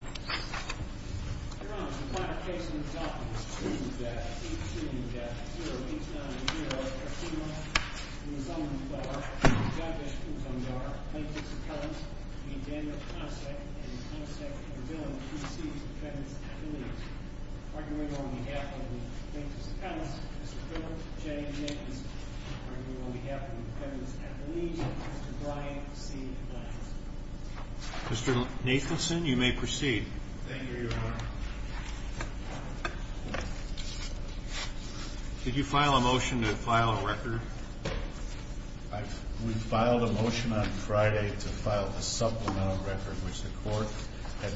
v. Daniel Konicek, and Mr. Brian C. Nathanson. Mr. Nathanson, you may proceed. Did you file a motion to file a record? We filed a motion on Friday to file a supplemental record, which the court had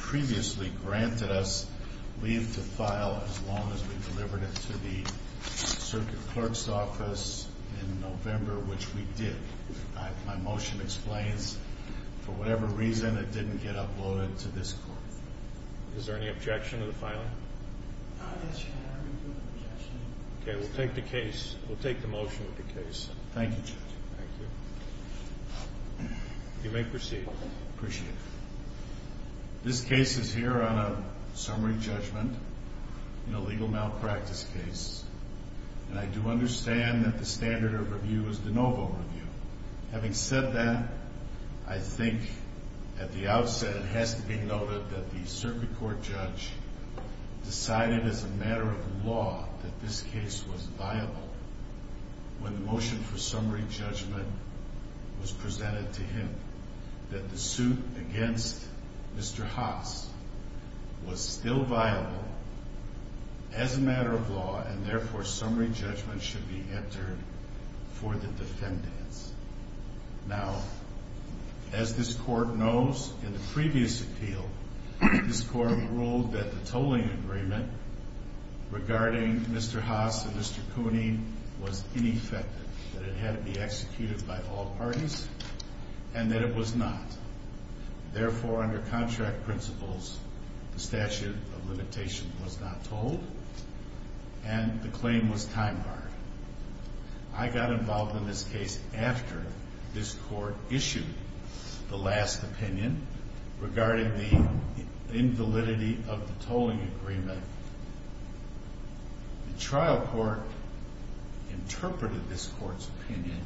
previously granted us leave to file as long as we delivered it to the circuit clerk's office in November, which we did. My motion explains, for whatever reason, it didn't get uploaded to this court. Is there any objection to the filing? No, there's no objection. Okay, we'll take the case. We'll take the motion of the case. Thank you, Judge. Thank you. You may proceed. I appreciate it. This case is here on a summary judgment in a legal malpractice case, and I do understand that the standard of review is de novo review. Having said that, I think at the outset it has to be noted that the circuit court judge decided as a matter of law that this case was viable when the motion for summary judgment was presented to him. That the suit against Mr. Haas was still viable as a matter of law, and therefore summary judgment should be entered for the defendants. Now, as this court knows, in the previous appeal, this court ruled that the tolling agreement regarding Mr. Haas and Mr. Cooney was ineffective, that it had to be executed by all parties, and that it was not. Therefore, under contract principles, the statute of limitation was not tolled, and the claim was time-barred. I got involved in this case after this court issued the last opinion regarding the invalidity of the tolling agreement. The trial court interpreted this court's opinion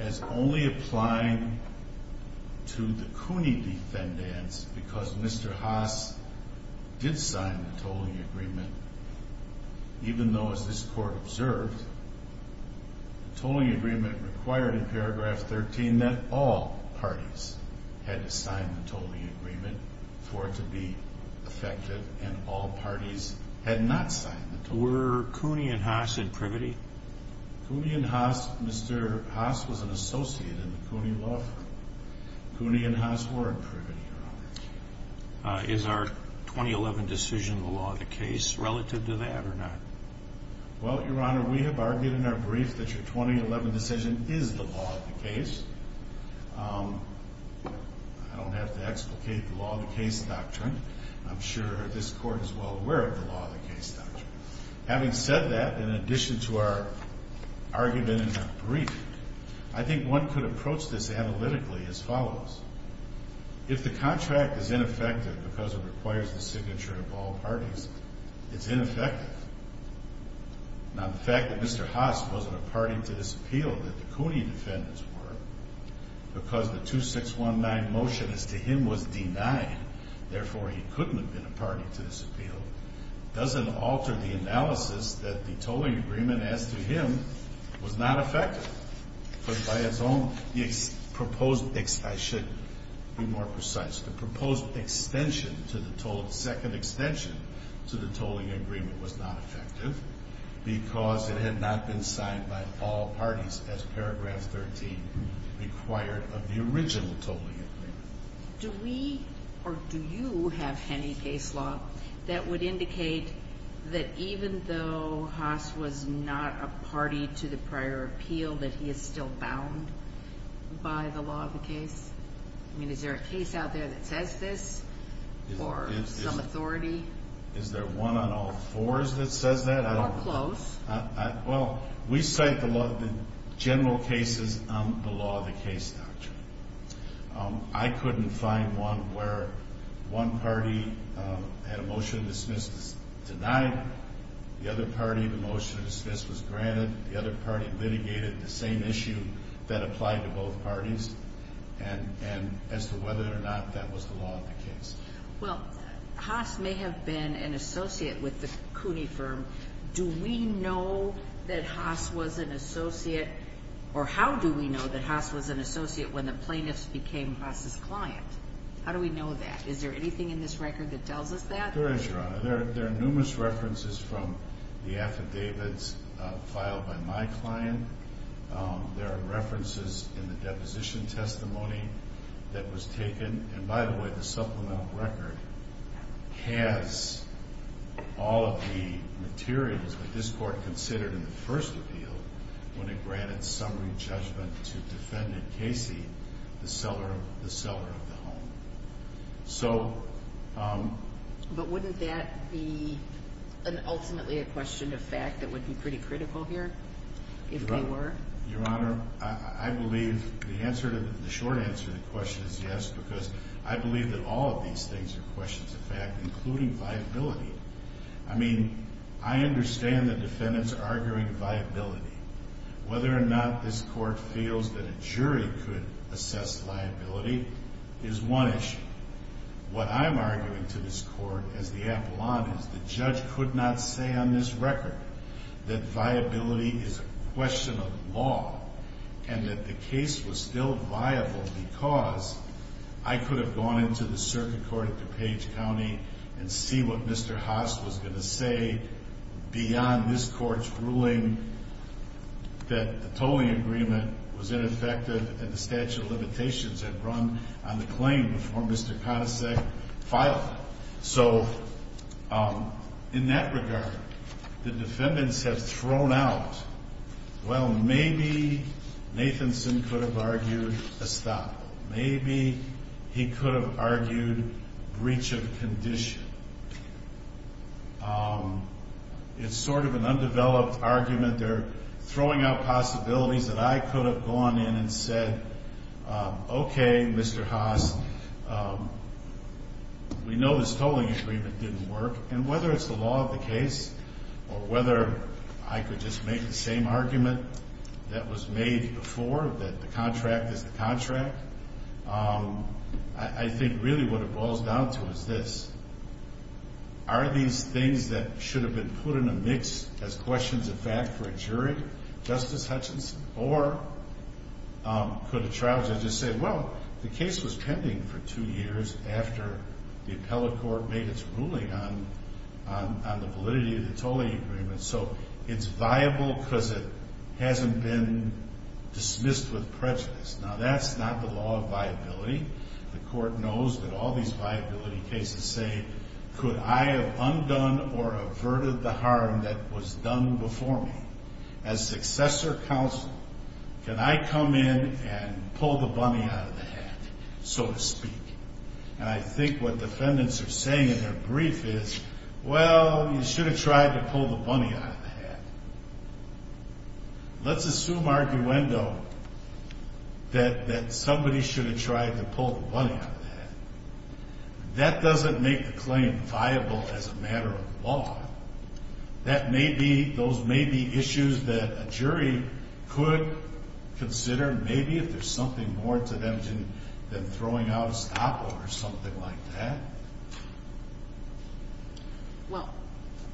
as only applying to the Cooney defendants because Mr. Haas did sign the tolling agreement, even though, as this court observed, the tolling agreement required in paragraph 13 that all parties had to sign the tolling agreement for it to be effective, and all parties had not signed the tolling agreement. Were Cooney and Haas in privity? Cooney and Haas, Mr. Haas was an associate in the Cooney law firm. Cooney and Haas were in privity. Is our 2011 decision the law of the case relative to that or not? Well, Your Honor, we have argued in our brief that your 2011 decision is the law of the case. I don't have to explicate the law of the case doctrine. I'm sure this court is well aware of the law of the case doctrine. Having said that, in addition to our argument in our brief, I think one could approach this analytically as follows. If the contract is ineffective because it requires the signature of all parties, it's ineffective. Now, the fact that Mr. Haas wasn't a party to this appeal, that the Cooney defendants were, because the 2619 motion as to him was denied, therefore he couldn't have been a party to this appeal, doesn't alter the analysis that the tolling agreement as to him was not effective. But by its own, the proposed, I should be more precise, the proposed extension to the tolling, second extension to the tolling agreement was not effective because it had not been signed by all parties as paragraph 13 required of the original tolling agreement. Do we or do you have any case law that would indicate that even though Haas was not a party to the prior appeal, that he is still bound by the law of the case? I mean, is there a case out there that says this or some authority? Is there one on all fours that says that? Or close. Well, we cite the general cases on the law of the case doctrine. I couldn't find one where one party had a motion dismissed as denied, the other party the motion dismissed was granted, the other party litigated the same issue that applied to both parties, and as to whether or not that was the law of the case. Well, Haas may have been an associate with the Cooney firm. Do we know that Haas was an associate, or how do we know that Haas was an associate when the plaintiffs became Haas's client? How do we know that? Is there anything in this record that tells us that? There is, Your Honor. There are numerous references from the affidavits filed by my client. There are references in the deposition testimony that was taken, and by the way, the supplemental record has all of the materials that this court considered in the first appeal when it granted summary judgment to defendant Casey, the seller of the home. So... But wouldn't that be ultimately a question of fact that would be pretty critical here, if they were? Your Honor, I believe the short answer to the question is yes, because I believe that all of these things are questions of fact, including viability. I mean, I understand the defendants arguing viability. Whether or not this court feels that a jury could assess liability is one issue. What I'm arguing to this court as the apollon is the judge could not say on this record that viability is a question of law, and that the case was still viable because I could have gone into the circuit court at DuPage County and see what Mr. Haas was going to say beyond this court's ruling that the tolling agreement was ineffective and the statute of limitations had run on the claim before Mr. Conasec filed it. So, in that regard, the defendants have thrown out, well, maybe Nathanson could have argued a stop. Maybe he could have argued breach of condition. It's sort of an undeveloped argument. They're throwing out possibilities that I could have gone in and said, okay, Mr. Haas, we know this tolling agreement didn't work, and whether it's the law of the case or whether I could just make the same argument that was made before, that the contract is the contract, I think really what it boils down to is this. Are these things that should have been put in a mix as questions of fact for a jury, Justice Hutchinson, or could a trial judge just say, well, the case was pending for two years after the appellate court made its ruling on the validity of the tolling agreement, so it's viable because it hasn't been dismissed with prejudice. Now, that's not the law of viability. The court knows that all these viability cases say, could I have undone or averted the harm that was done before me? As successor counsel, can I come in and pull the bunny out of the hat, so to speak? And I think what defendants are saying in their brief is, well, you should have tried to pull the bunny out of the hat. Let's assume arguendo that somebody should have tried to pull the bunny out of the hat. That doesn't make the claim viable as a matter of law. Those may be issues that a jury could consider, maybe, if there's something more to them than throwing out a stopper or something like that. Well,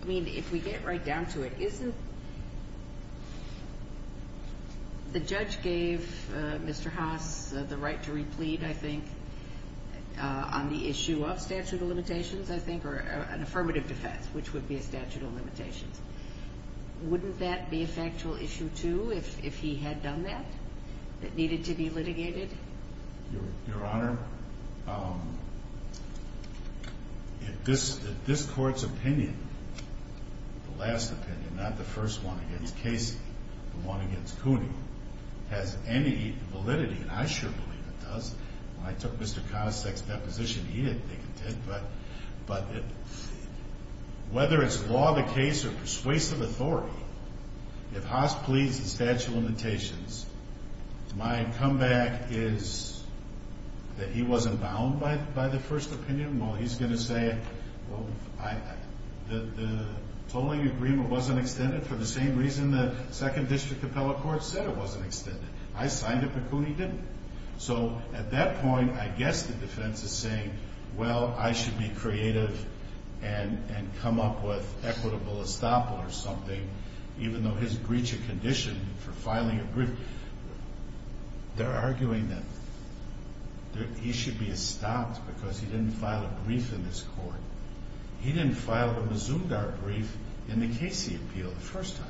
I mean, if we get right down to it, isn't the judge gave Mr. Haas the right to replete, I think, on the issue of statute of limitations, I think, or an affirmative defense, which would be a statute of limitations. Wouldn't that be a factual issue, too, if he had done that, that needed to be litigated? Your Honor, if this Court's opinion, the last opinion, not the first one against Casey, the one against Cooney, has any validity, and I sure believe it does. When I took Mr. Connisek's deposition, he didn't think it did. But whether it's law of the case or persuasive authority, if Haas pleads the statute of limitations, my comeback is that he wasn't bound by the first opinion. Well, he's going to say, well, the tolling agreement wasn't extended for the same reason the Second District Appellate Court said it wasn't extended. I signed it, but Cooney didn't. So at that point, I guess the defense is saying, well, I should be creative and come up with equitable estoppel or something, even though his breach of condition for filing a brief, they're arguing that he should be estopped because he didn't file a brief in this Court. He didn't file a Mazumdar brief in the Casey appeal the first time.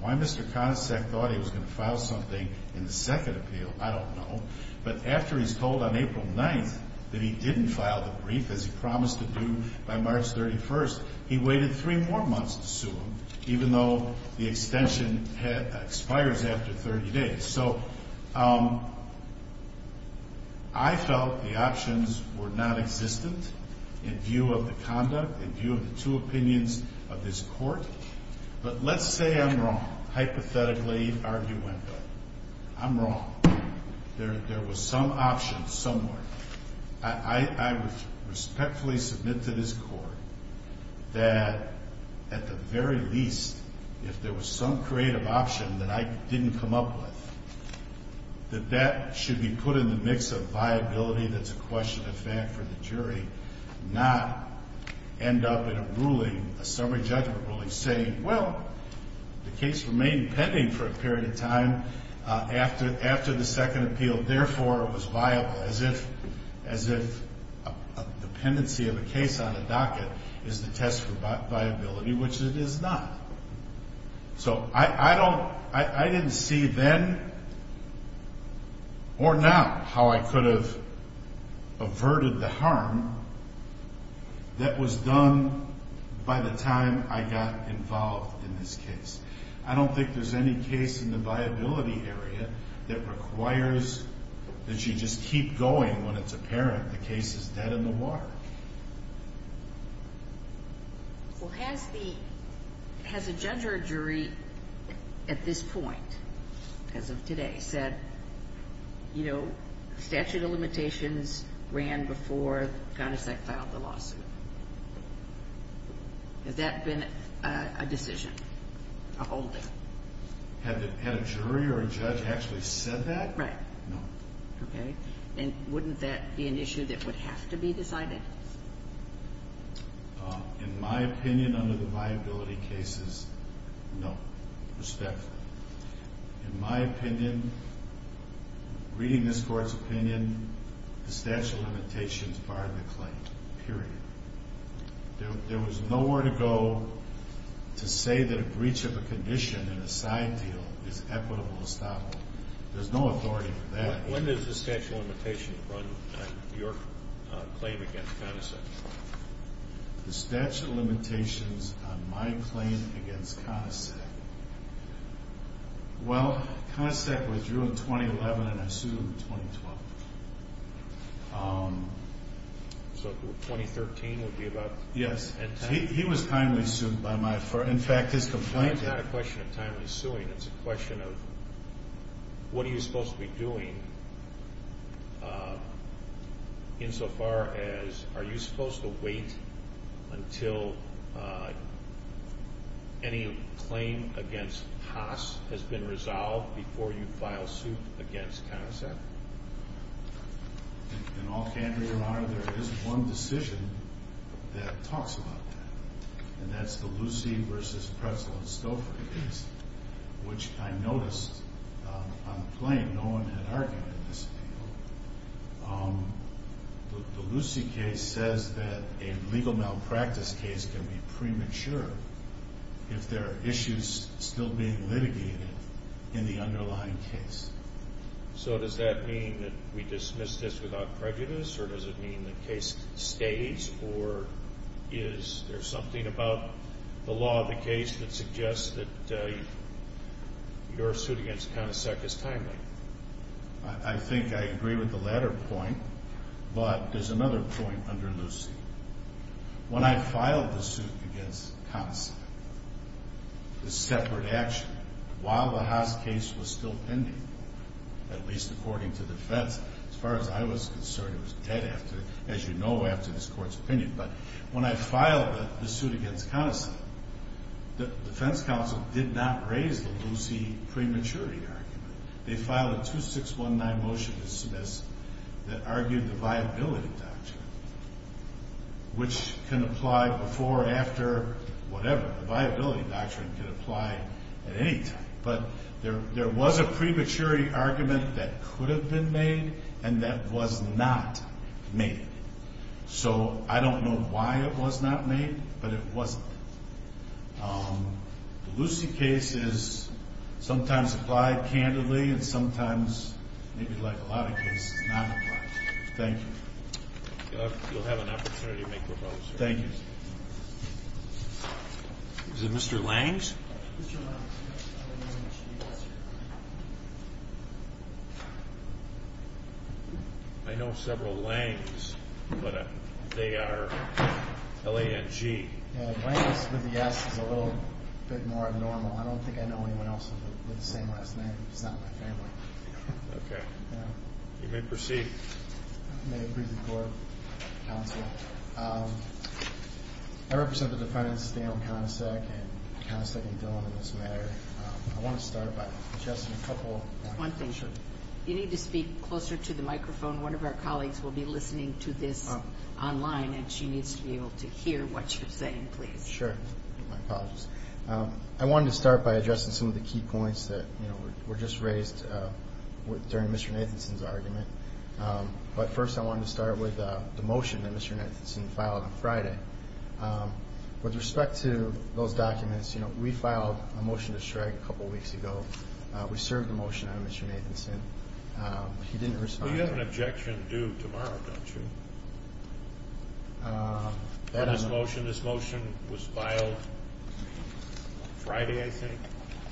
Why Mr. Connisek thought he was going to file something in the second appeal, I don't know. But after he's told on April 9th that he didn't file the brief, as he promised to do by March 31st, he waited three more months to sue him, even though the extension expires after 30 days. So I felt the options were nonexistent in view of the conduct, in view of the two opinions of this Court. But let's say I'm wrong, hypothetically arguendo. I'm wrong. There was some option somewhere. I would respectfully submit to this Court that at the very least, if there was some creative option that I didn't come up with, that that should be put in the mix of viability that's a question of fact for the jury, not end up in a ruling, a summary judgment ruling, saying, well, the case remained pending for a period of time after the second appeal, therefore it was viable, as if a dependency of a case on a docket is the test for viability, which it is not. So I didn't see then or now how I could have averted the harm that was done by the time I got involved in this case. I don't think there's any case in the viability area that requires that you just keep going when it's apparent the case is dead in the water. Well, has the judge or jury at this point, as of today, said, you know, statute of limitations ran before the condescend filed the lawsuit? Has that been a decision? A holding? Had a jury or a judge actually said that? Right. No. Okay. And wouldn't that be an issue that would have to be decided? In my opinion, under the viability cases, no, respectfully. In my opinion, reading this Court's opinion, the statute of limitations fired the claim, period. There was nowhere to go to say that a breach of a condition in a side deal is equitable estoppel. There's no authority for that. When does the statute of limitations run your claim against CONACSEC? The statute of limitations on my claim against CONACSEC. Well, CONACSEC withdrew in 2011 and I sued in 2012. So 2013 would be about the end time? Yes. He was timely sued by my firm. In fact, his complaint had a question of timely suing. It's a question of what are you supposed to be doing insofar as, are you supposed to wait until any claim against Haas has been resolved before you file suit against CONACSEC? In all candor, Your Honor, there is one decision that talks about that. And that's the Lucey v. Pretzlow-Stouffer case, which I noticed on the plane no one had argued in this appeal. The Lucey case says that a legal malpractice case can be premature if there are issues still being litigated in the underlying case. So does that mean that we dismiss this without prejudice or does it mean the case stays or is there something about the law of the case that suggests that your suit against CONACSEC is timely? I think I agree with the latter point, but there's another point under Lucey. When I filed the suit against CONACSEC, the separate action, while the Haas case was still pending, at least according to defense, as far as I was concerned it was dead after, as you know, after this Court's opinion. But when I filed the suit against CONACSEC, the defense counsel did not raise the Lucey prematurity argument. They filed a 2619 motion to dismiss that argued the viability doctrine, which can apply before or after whatever. The viability doctrine can apply at any time. But there was a prematurity argument that could have been made and that was not made. So I don't know why it was not made, but it wasn't. The Lucey case is sometimes applied candidly and sometimes, maybe like a lot of cases, not applied. Thank you. You'll have an opportunity to make a proposal. Thank you. Is it Mr. Lange? I know several Lange's, but they are L-A-N-G. Lange's with the S is a little bit more normal. I don't think I know anyone else with the same last name. He's not in my family. Okay. You may proceed. I may approve the court counsel. I represent the defense, Daniel CONACSEC, and CONACSEC and Dillon in this matter. I want to start by suggesting a couple of things. Sure. You need to speak closer to the microphone. One of our colleagues will be listening to this online, and she needs to be able to hear what you're saying, please. Sure. My apologies. I wanted to start by addressing some of the key points that were just raised during Mr. Nathanson's argument. But first I wanted to start with the motion that Mr. Nathanson filed on Friday. With respect to those documents, you know, we filed a motion to shrug a couple weeks ago. We served the motion out of Mr. Nathanson. He didn't respond. Well, you have an objection due tomorrow, don't you? That I don't know. This motion was filed Friday, I think,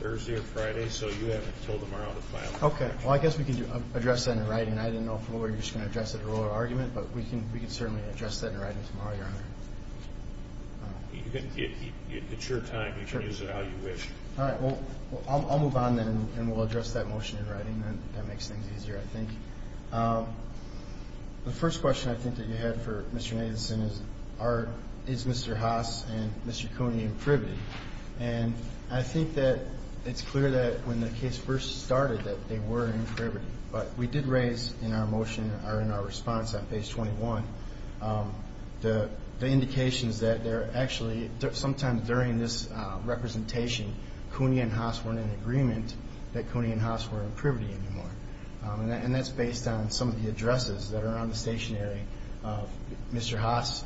Thursday or Friday. So you have until tomorrow to file an objection. Okay. Well, I guess we can address that in writing. I didn't know if we were just going to address it in oral argument, but we can certainly address that in writing tomorrow, Your Honor. It's your time. You can use it how you wish. All right. Well, I'll move on then, and we'll address that motion in writing. That makes things easier, I think. The first question I think that you had for Mr. Nathanson is, is Mr. Haas and Mr. Cooney imprivity? And I think that it's clear that when the case first started that they were imprivity. But we did raise in our motion or in our response on page 21 the indications that they're actually, sometimes during this representation, Cooney and Haas weren't in agreement that Cooney and Haas were imprivity anymore. And that's based on some of the addresses that are on the stationery of Mr. Haas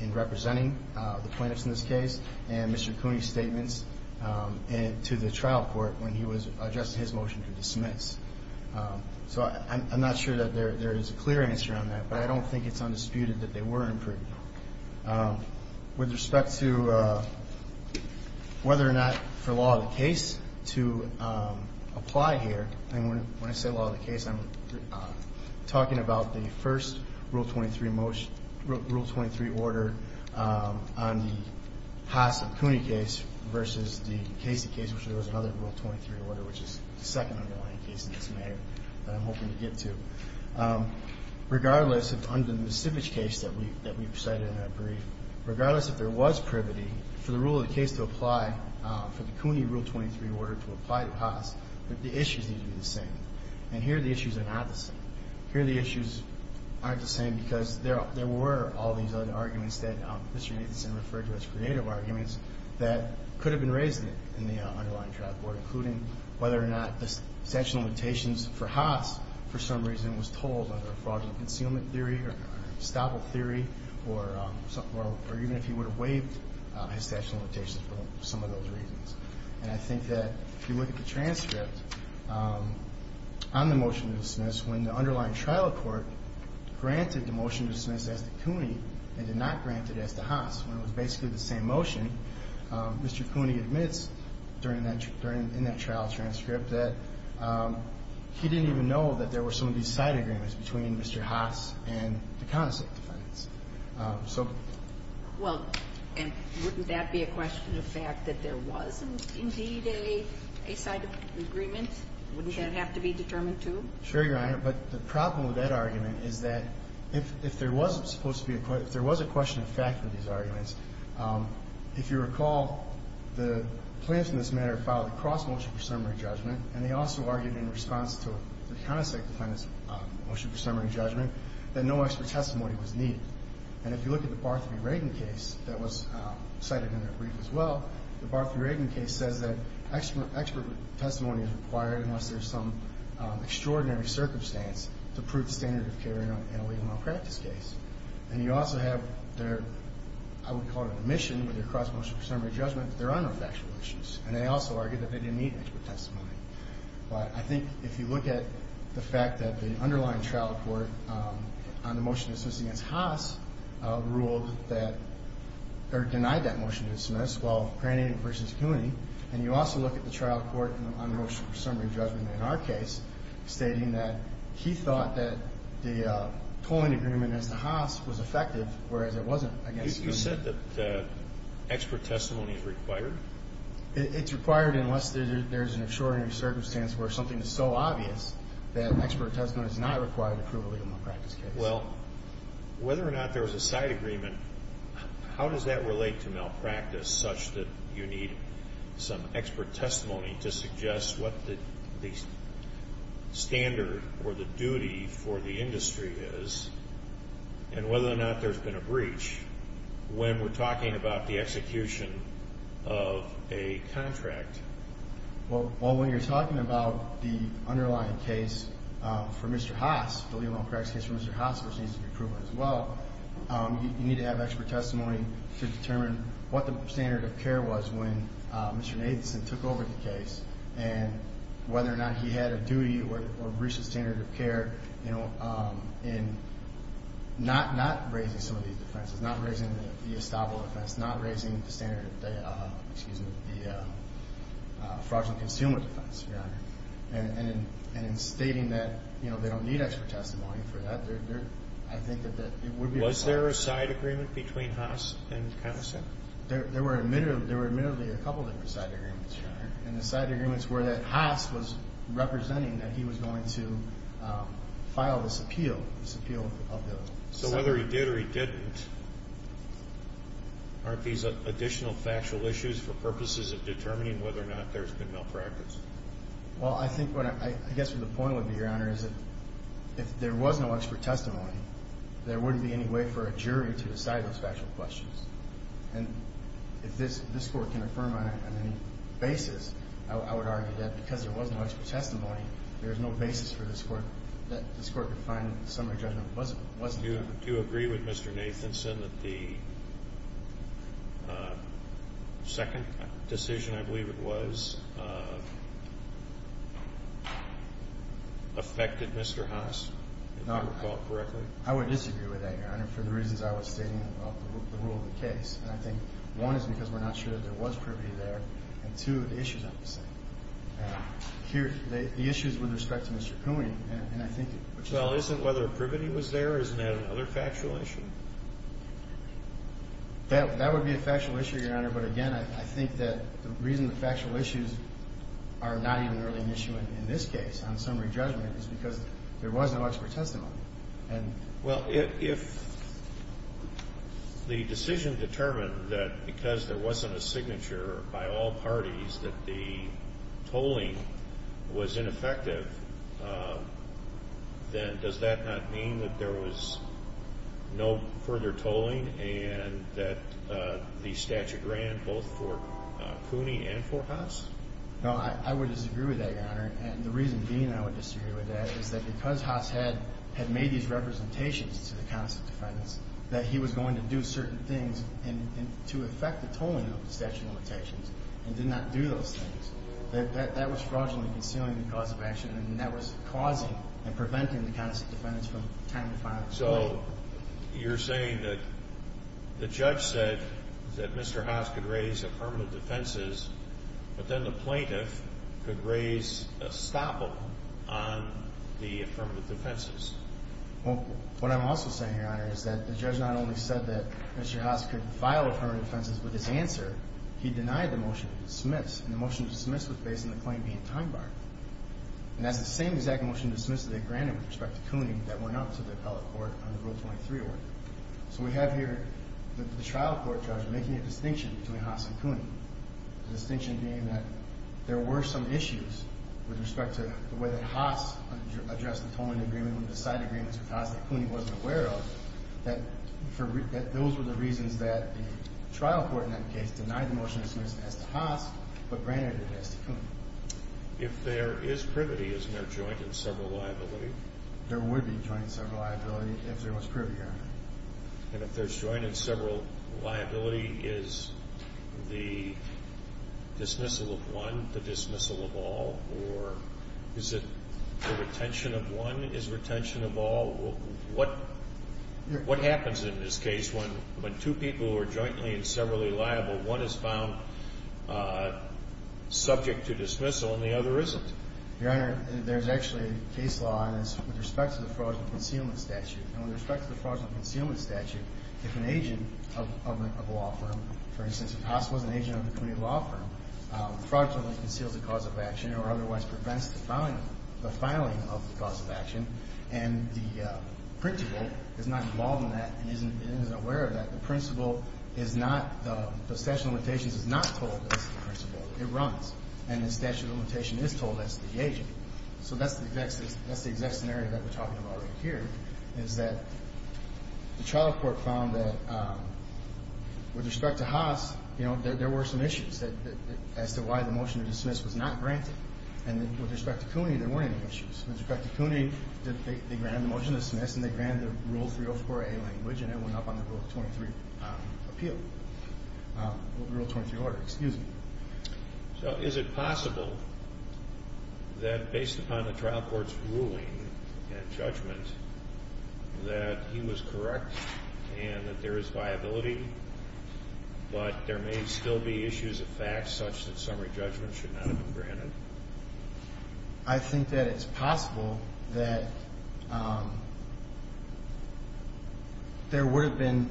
in representing the plaintiffs in this case and Mr. Cooney's statements to the trial court when he was addressing his motion to dismiss. So I'm not sure that there is a clear answer on that, but I don't think it's undisputed that they were imprivity. With respect to whether or not for law of the case to apply here, and when I say law of the case, I'm talking about the first Rule 23 order on the Haas and Cooney case versus the Casey case, which was another Rule 23 order, which is the second underlying case in this manner that I'm hoping to get to. Regardless, under the misdemeanor case that we cited in our brief, regardless if there was privity for the rule of the case to apply, for the Cooney Rule 23 order to apply to Haas, the issues need to be the same. And here the issues are not the same. Here the issues aren't the same because there were all these other arguments that Mr. Nathanson referred to as creative arguments that could have been raised in the underlying trial court, including whether or not the statute of limitations for Haas for some reason was told under fraudulent concealment theory or estoppel theory, or even if he would have waived his statute of limitations for some of those reasons. And I think that if you look at the transcript on the motion to dismiss, when the underlying trial court granted the motion to dismiss as to Cooney and did not grant it as to Haas, when it was basically the same motion, Mr. Cooney admits during that – in that trial transcript that he didn't even know that there were some of these side agreements between Mr. Haas and the connoisseur defendants. So – Well, and wouldn't that be a question of the fact that there was indeed a side agreement? Sure. Wouldn't that have to be determined, too? Sure, Your Honor. But the problem with that argument is that if there was supposed to be a – if there was a question of fact in these arguments, if you recall, the plaintiffs in this matter filed a cross-motion for summary judgment, and they also argued in response to the connoisseur defendants' motion for summary judgment that no expert testimony was needed. And if you look at the Barthleby-Ragan case that was cited in their brief as well, the Barthleby-Ragan case says that expert testimony is required unless there's some extraordinary circumstance to prove the standard of care in a legal malpractice case. And you also have their – I would call it omission with their cross-motion for summary judgment, but there are no factual issues. And they also argued that they didn't need expert testimony. But I think if you look at the fact that the underlying trial report on the motion dismissed against Haas ruled that – and you also look at the trial court on motion for summary judgment in our case, stating that he thought that the tolling agreement as to Haas was effective, whereas it wasn't, I guess. You said that expert testimony is required? It's required unless there's an extraordinary circumstance where something is so obvious that expert testimony is not required to prove a legal malpractice case. Well, whether or not there was a side agreement, how does that relate to malpractice such that you need some expert testimony to suggest what the standard or the duty for the industry is and whether or not there's been a breach when we're talking about the execution of a contract? Well, when you're talking about the underlying case for Mr. Haas, the legal malpractice case for Mr. Haas, which needs to be approved as well, you need to have expert testimony to determine what the standard of care was when Mr. Nathanson took over the case and whether or not he had a duty or breached the standard of care in not raising some of these defenses, not raising the estoppel defense, not raising the standard of the fraudulent consumer defense, Your Honor. And in stating that they don't need expert testimony for that, I think that it would be required. Was there a side agreement between Haas and Nathanson? There were admittedly a couple of side agreements, Your Honor. And the side agreements were that Haas was representing that he was going to file this appeal. So whether he did or he didn't, aren't these additional factual issues for purposes of determining whether or not there's been malpractice? Well, I think what I guess the point would be, Your Honor, is that if there was no expert testimony, there wouldn't be any way for a jury to decide those factual questions. And if this Court can affirm on any basis, I would argue that because there was no expert testimony, there's no basis for this Court to find that the summary judgment wasn't confirmed. Do you agree with Mr. Nathanson that the second decision, I believe it was, affected Mr. Haas, if you recall correctly? I would disagree with that, Your Honor, for the reasons I was stating about the rule of the case. And I think, one, it's because we're not sure that there was privity there, and, two, the issue's not the same. Here, the issue's with respect to Mr. Kuehling, and I think it's the same. Well, isn't whether privity was there, isn't that another factual issue? That would be a factual issue, Your Honor. But, again, I think that the reason the factual issues are not even really an issue in this case, on summary judgment, is because there was no expert testimony. Well, if the decision determined that because there wasn't a signature by all parties that the tolling was ineffective, then does that not mean that there was no further tolling and that the statute ran both for Cooney and for Haas? No, I would disagree with that, Your Honor. And the reason being I would disagree with that is that because Haas had made these representations to the countess defendants that he was going to do certain things to affect the tolling of the statute of limitations and did not do those things. That was fraudulently concealing the cause of action, and that was causing and preventing the countess defendants from time to time. So you're saying that the judge said that Mr. Haas could raise affirmative defenses, but then the plaintiff could raise a stopple on the affirmative defenses? Well, what I'm also saying, Your Honor, is that the judge not only said that Mr. Haas could file affirmative defenses with his answer, he denied the motion to dismiss, and the motion to dismiss was based on the claim being time-barred. And that's the same exact motion to dismiss that they granted with respect to Cooney that went out to the appellate court on the Rule 23 order. So we have here the trial court judge making a distinction between Haas and Cooney, the distinction being that there were some issues with respect to the way that Haas addressed the tolling agreement with the side agreements with Haas that Cooney wasn't aware of, that those were the reasons that the trial court in that case denied the motion to dismiss as to Haas but granted it as to Cooney. If there is privity, isn't there joint and several liability? There would be joint and several liability if there was privity, Your Honor. And if there's joint and several liability, is the dismissal of one the dismissal of all, or is it the retention of one is retention of all? What happens in this case when two people are jointly and severally liable, one is found subject to dismissal and the other isn't? Your Honor, there's actually a case law on this with respect to the fraudulent concealment statute. And with respect to the fraudulent concealment statute, if an agent of a law firm, for instance, if Haas was an agent of a Cooney law firm, fraudulently conceals the cause of action or otherwise prevents the filing of the cause of action, and the principal is not involved in that and isn't aware of that, the principal is not, the statute of limitations is not told that it's the principal. It runs. And the statute of limitations is told that it's the agent. So that's the exact scenario that we're talking about right here, is that the trial court found that with respect to Haas, you know, there were some issues as to why the motion to dismiss was not granted. And with respect to Cooney, there weren't any issues. With respect to Cooney, they granted the motion to dismiss, and they granted the Rule 304A language, and it went up on the Rule 23 appeal, Rule 23 order. Excuse me. So is it possible that based upon the trial court's ruling and judgment that he was correct and that there is viability, but there may still be issues of facts such that summary judgment should not have been granted? I think that it's possible that there would have been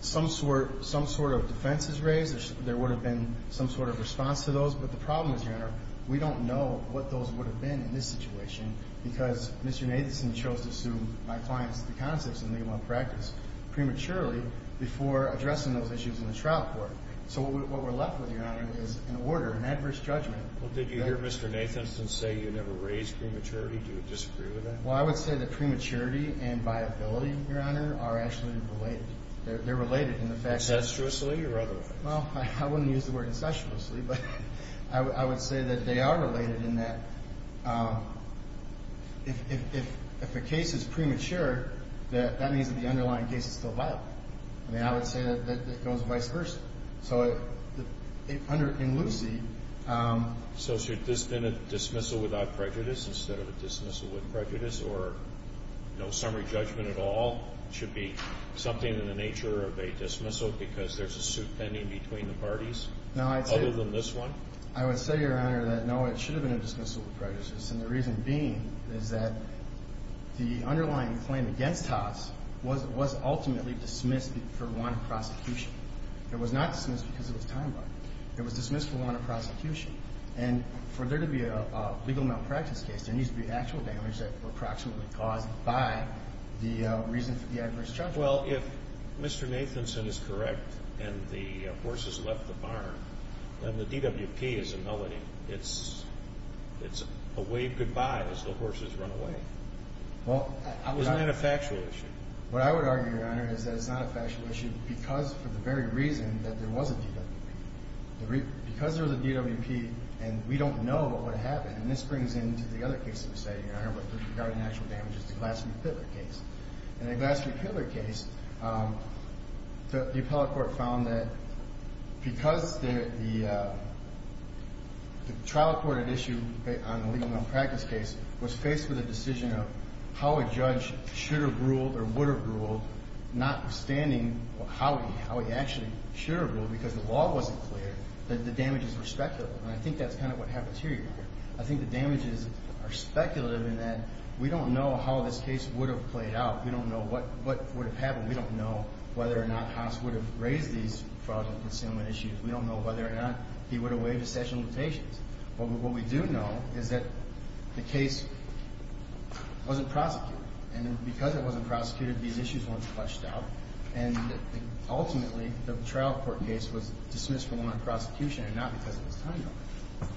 some sort of defenses raised, there would have been some sort of response to those, but the problem is, Your Honor, we don't know what those would have been in this situation because Mr. Nathanson chose to sue my clients, the concepts in the one practice, prematurely before addressing those issues in the trial court. So what we're left with, Your Honor, is an order, an adverse judgment. Well, did you hear Mr. Nathanson say you never raised prematurity? Do you disagree with that? Well, I would say that prematurity and viability, Your Honor, are actually related. They're related in the fact that… Concessuously or otherwise? Well, I wouldn't use the word concessuously, but I would say that they are related in that if a case is premature, that means that the underlying case is still viable. I mean, I would say that it goes vice versa. So in Lucy… So should this have been a dismissal without prejudice instead of a dismissal with prejudice, or no summary judgment at all should be something in the nature of a dismissal because there's a suit pending between the parties? No, I'd say… Other than this one? I would say, Your Honor, that no, it should have been a dismissal with prejudice, and the reason being is that the underlying claim against Haas was ultimately dismissed for wanted prosecution. It was not dismissed because it was time-bound. It was dismissed for wanted prosecution. And for there to be a legal malpractice case, there needs to be actual damage that were approximately caused by the reason for the adverse judgment. Well, if Mr. Nathanson is correct and the horses left the barn, then the DWP is a melody. It's a wave goodbye as the horses run away. Well… Isn't that a factual issue? What I would argue, Your Honor, is that it's not a factual issue because for the very reason that there was a DWP. Because there was a DWP and we don't know what happened, and this brings into the other case that we're studying, Your Honor, with regard to natural damages, the Glastonbury-Pitler case. In the Glastonbury-Pitler case, the appellate court found that because the trial court at issue on the legal malpractice case was faced with a decision of how a judge should have ruled or would have ruled, notwithstanding how he actually should have ruled because the law wasn't clear, that the damages were speculative. And I think that's kind of what happens here, Your Honor. I think the damages are speculative in that we don't know how this case would have played out. We don't know what would have happened. We don't know whether or not Haas would have raised these fraudulent concealment issues. We don't know whether or not he would have waived his session limitations. But what we do know is that the case wasn't prosecuted. And because it wasn't prosecuted, these issues weren't flushed out. And ultimately, the trial court case was dismissed from the prosecution and not because of its time limit.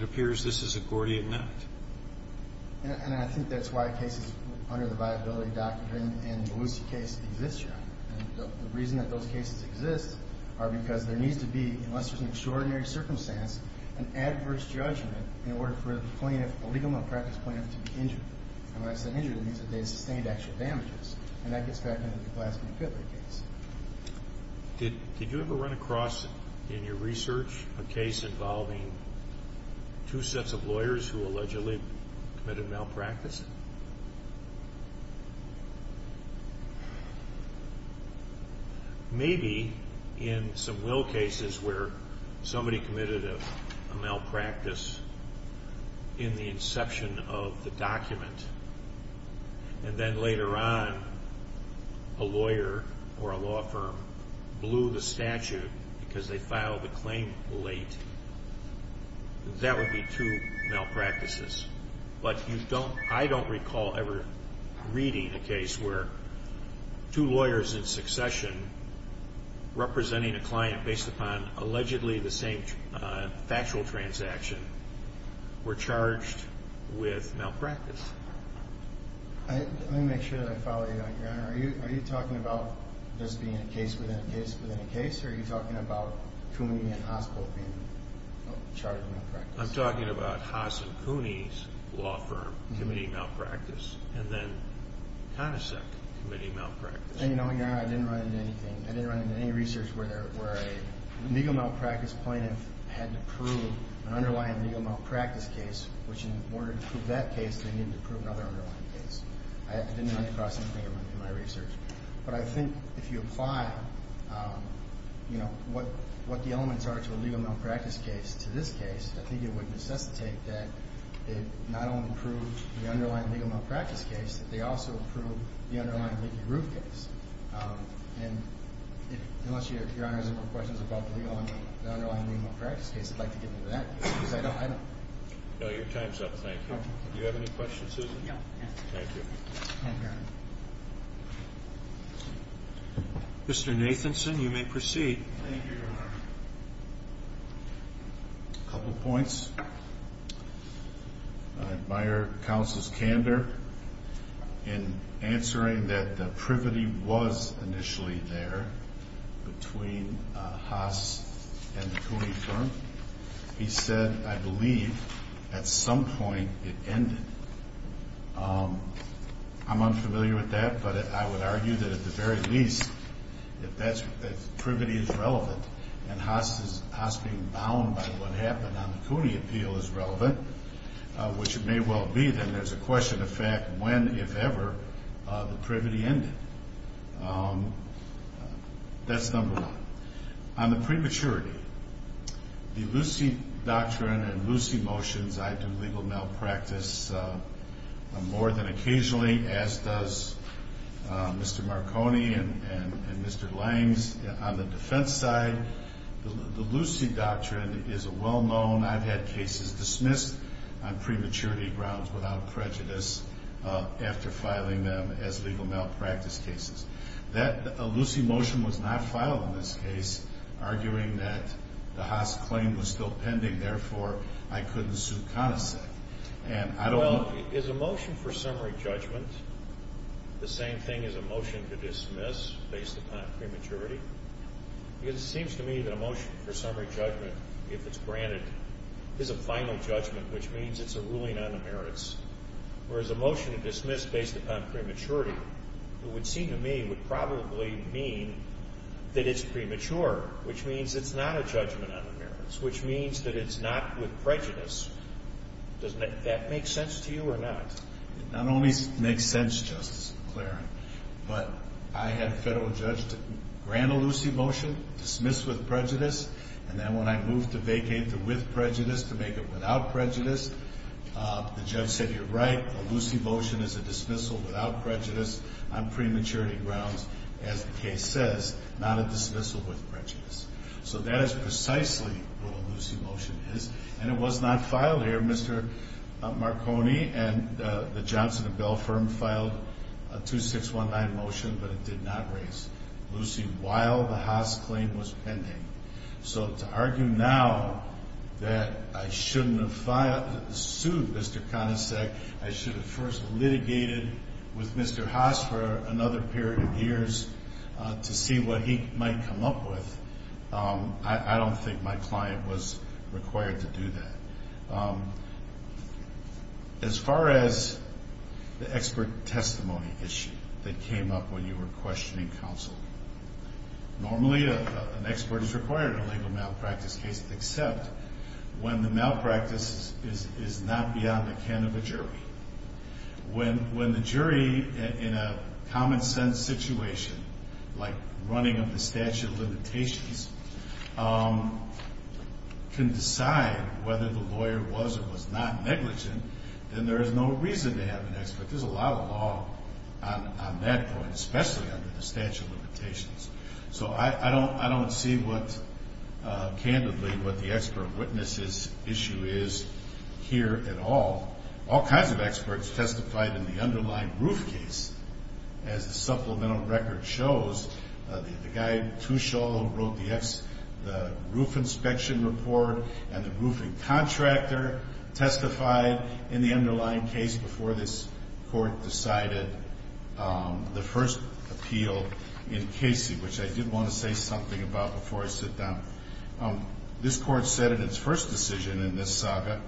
It appears this is a Gordian Act. And I think that's why cases under the viability doctrine in the Lucie case exist, Your Honor. And the reason that those cases exist are because there needs to be, unless there's an extraordinary circumstance, an adverse judgment in order for the plaintiff, a legal malpractice plaintiff, to be injured. And when I say injured, it means that they sustained actual damages. And that gets back into the Glassman-Fitler case. Did you ever run across in your research a case involving two sets of lawyers who allegedly committed malpractice? Maybe in some will cases where somebody committed a malpractice in the inception of the document. And then later on, a lawyer or a law firm blew the statute because they filed the claim late. That would be two malpractices. But I don't recall ever reading a case where two lawyers in succession representing a client based upon allegedly the same factual transaction were charged with malpractice. Let me make sure that I follow you on that, Your Honor. Are you talking about this being a case within a case within a case? Or are you talking about Cooney and Haas both being charged with malpractice? I'm talking about Haas and Cooney's law firm committing malpractice, and then Conasec committing malpractice. And you know, Your Honor, I didn't run into anything. I didn't run into any research where a legal malpractice plaintiff had to prove an underlying legal malpractice case, which in order to prove that case, they needed to prove another underlying case. I didn't run across anything in my research. But I think if you apply, you know, what the elements are to a legal malpractice case to this case, I think it would necessitate that they not only prove the underlying legal malpractice case, that they also prove the underlying leaky roof case. And unless Your Honor has any more questions about the underlying legal malpractice case, I'd like to get into that, because I don't. No, your time's up. Thank you. Do you have any questions, Susan? No. Thank you. Thank you. Mr. Nathanson, you may proceed. Thank you, Your Honor. A couple points. I admire Counsel's candor in answering that the privity was initially there between Haas and the Cooney firm. He said, I believe, at some point it ended. I'm unfamiliar with that, but I would argue that at the very least, if privity is relevant and Haas being bound by what happened on the Cooney appeal is relevant, which it may well be, then there's a question of fact when, if ever, the privity ended. That's number one. On the prematurity, the Lucy doctrine and Lucy motions, I do legal malpractice more than occasionally, as does Mr. Marconi and Mr. Langs. On the defense side, the Lucy doctrine is a well-known. I've had cases dismissed on prematurity grounds without prejudice after filing them as legal malpractice cases. A Lucy motion was not filed in this case, arguing that the Haas claim was still pending, therefore, I couldn't suit connoisseur. Well, is a motion for summary judgment the same thing as a motion to dismiss based upon prematurity? Because it seems to me that a motion for summary judgment, if it's granted, is a final judgment, whereas a motion to dismiss based upon prematurity, it would seem to me, would probably mean that it's premature, which means it's not a judgment on the merits, which means that it's not with prejudice. Does that make sense to you or not? It not only makes sense, Justice McLaren, but I had a federal judge to grant a Lucy motion, dismiss with prejudice, and then when I moved to vacate the with prejudice to make it without prejudice, the judge said, you're right, a Lucy motion is a dismissal without prejudice on prematurity grounds, as the case says, not a dismissal with prejudice. So that is precisely what a Lucy motion is, and it was not filed here. Mr. Marconi and the Johnson & Bell firm filed a 2619 motion, but it did not raise Lucy while the Haas claim was pending. So to argue now that I shouldn't have sued Mr. Conasec, I should have first litigated with Mr. Haas for another period of years to see what he might come up with, I don't think my client was required to do that. As far as the expert testimony issue that came up when you were questioning counsel, normally an expert is required in a legal malpractice case except when the malpractice is not beyond the can of a jury. When the jury in a common sense situation, like running under statute of limitations, can decide whether the lawyer was or was not negligent, then there is no reason to have an expert. But there's a lot of law on that point, especially under the statute of limitations. So I don't see what, candidly, what the expert witness issue is here at all. All kinds of experts testified in the underlying roof case. As the supplemental record shows, the guy, Tushol, who wrote the roof inspection report and the roofing contractor testified in the underlying case before this court decided the first appeal in Casey, which I did want to say something about before I sit down. This court said in its first decision in this saga,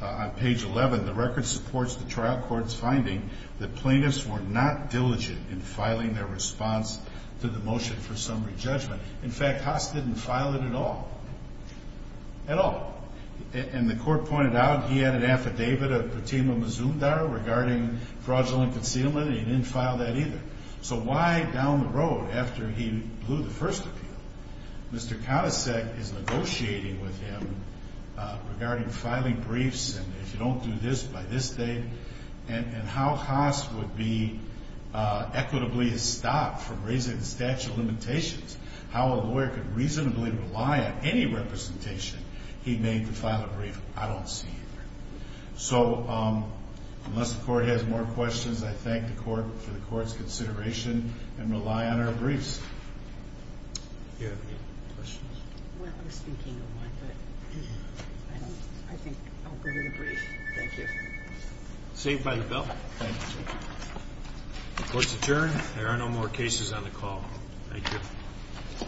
on page 11, the record supports the trial court's finding that plaintiffs were not diligent in filing their response to the motion for summary judgment. In fact, Haas didn't file it at all. At all. And the court pointed out he had an affidavit of protema misumdar regarding fraudulent concealment, and he didn't file that either. So why, down the road, after he blew the first appeal, Mr. Katasek is negotiating with him regarding filing briefs, and if you don't do this by this date, and how Haas would be equitably stopped from raising the statute of limitations, how a lawyer could reasonably rely on any representation he made to file a brief, I don't see either. So unless the court has more questions, I thank the court for the court's consideration and rely on our briefs. Do you have any questions? Well, I was thinking of one, but I think I'll go to the brief. Thank you. Saved by the bell. Thank you. The court's adjourned. There are no more cases on the call. Thank you.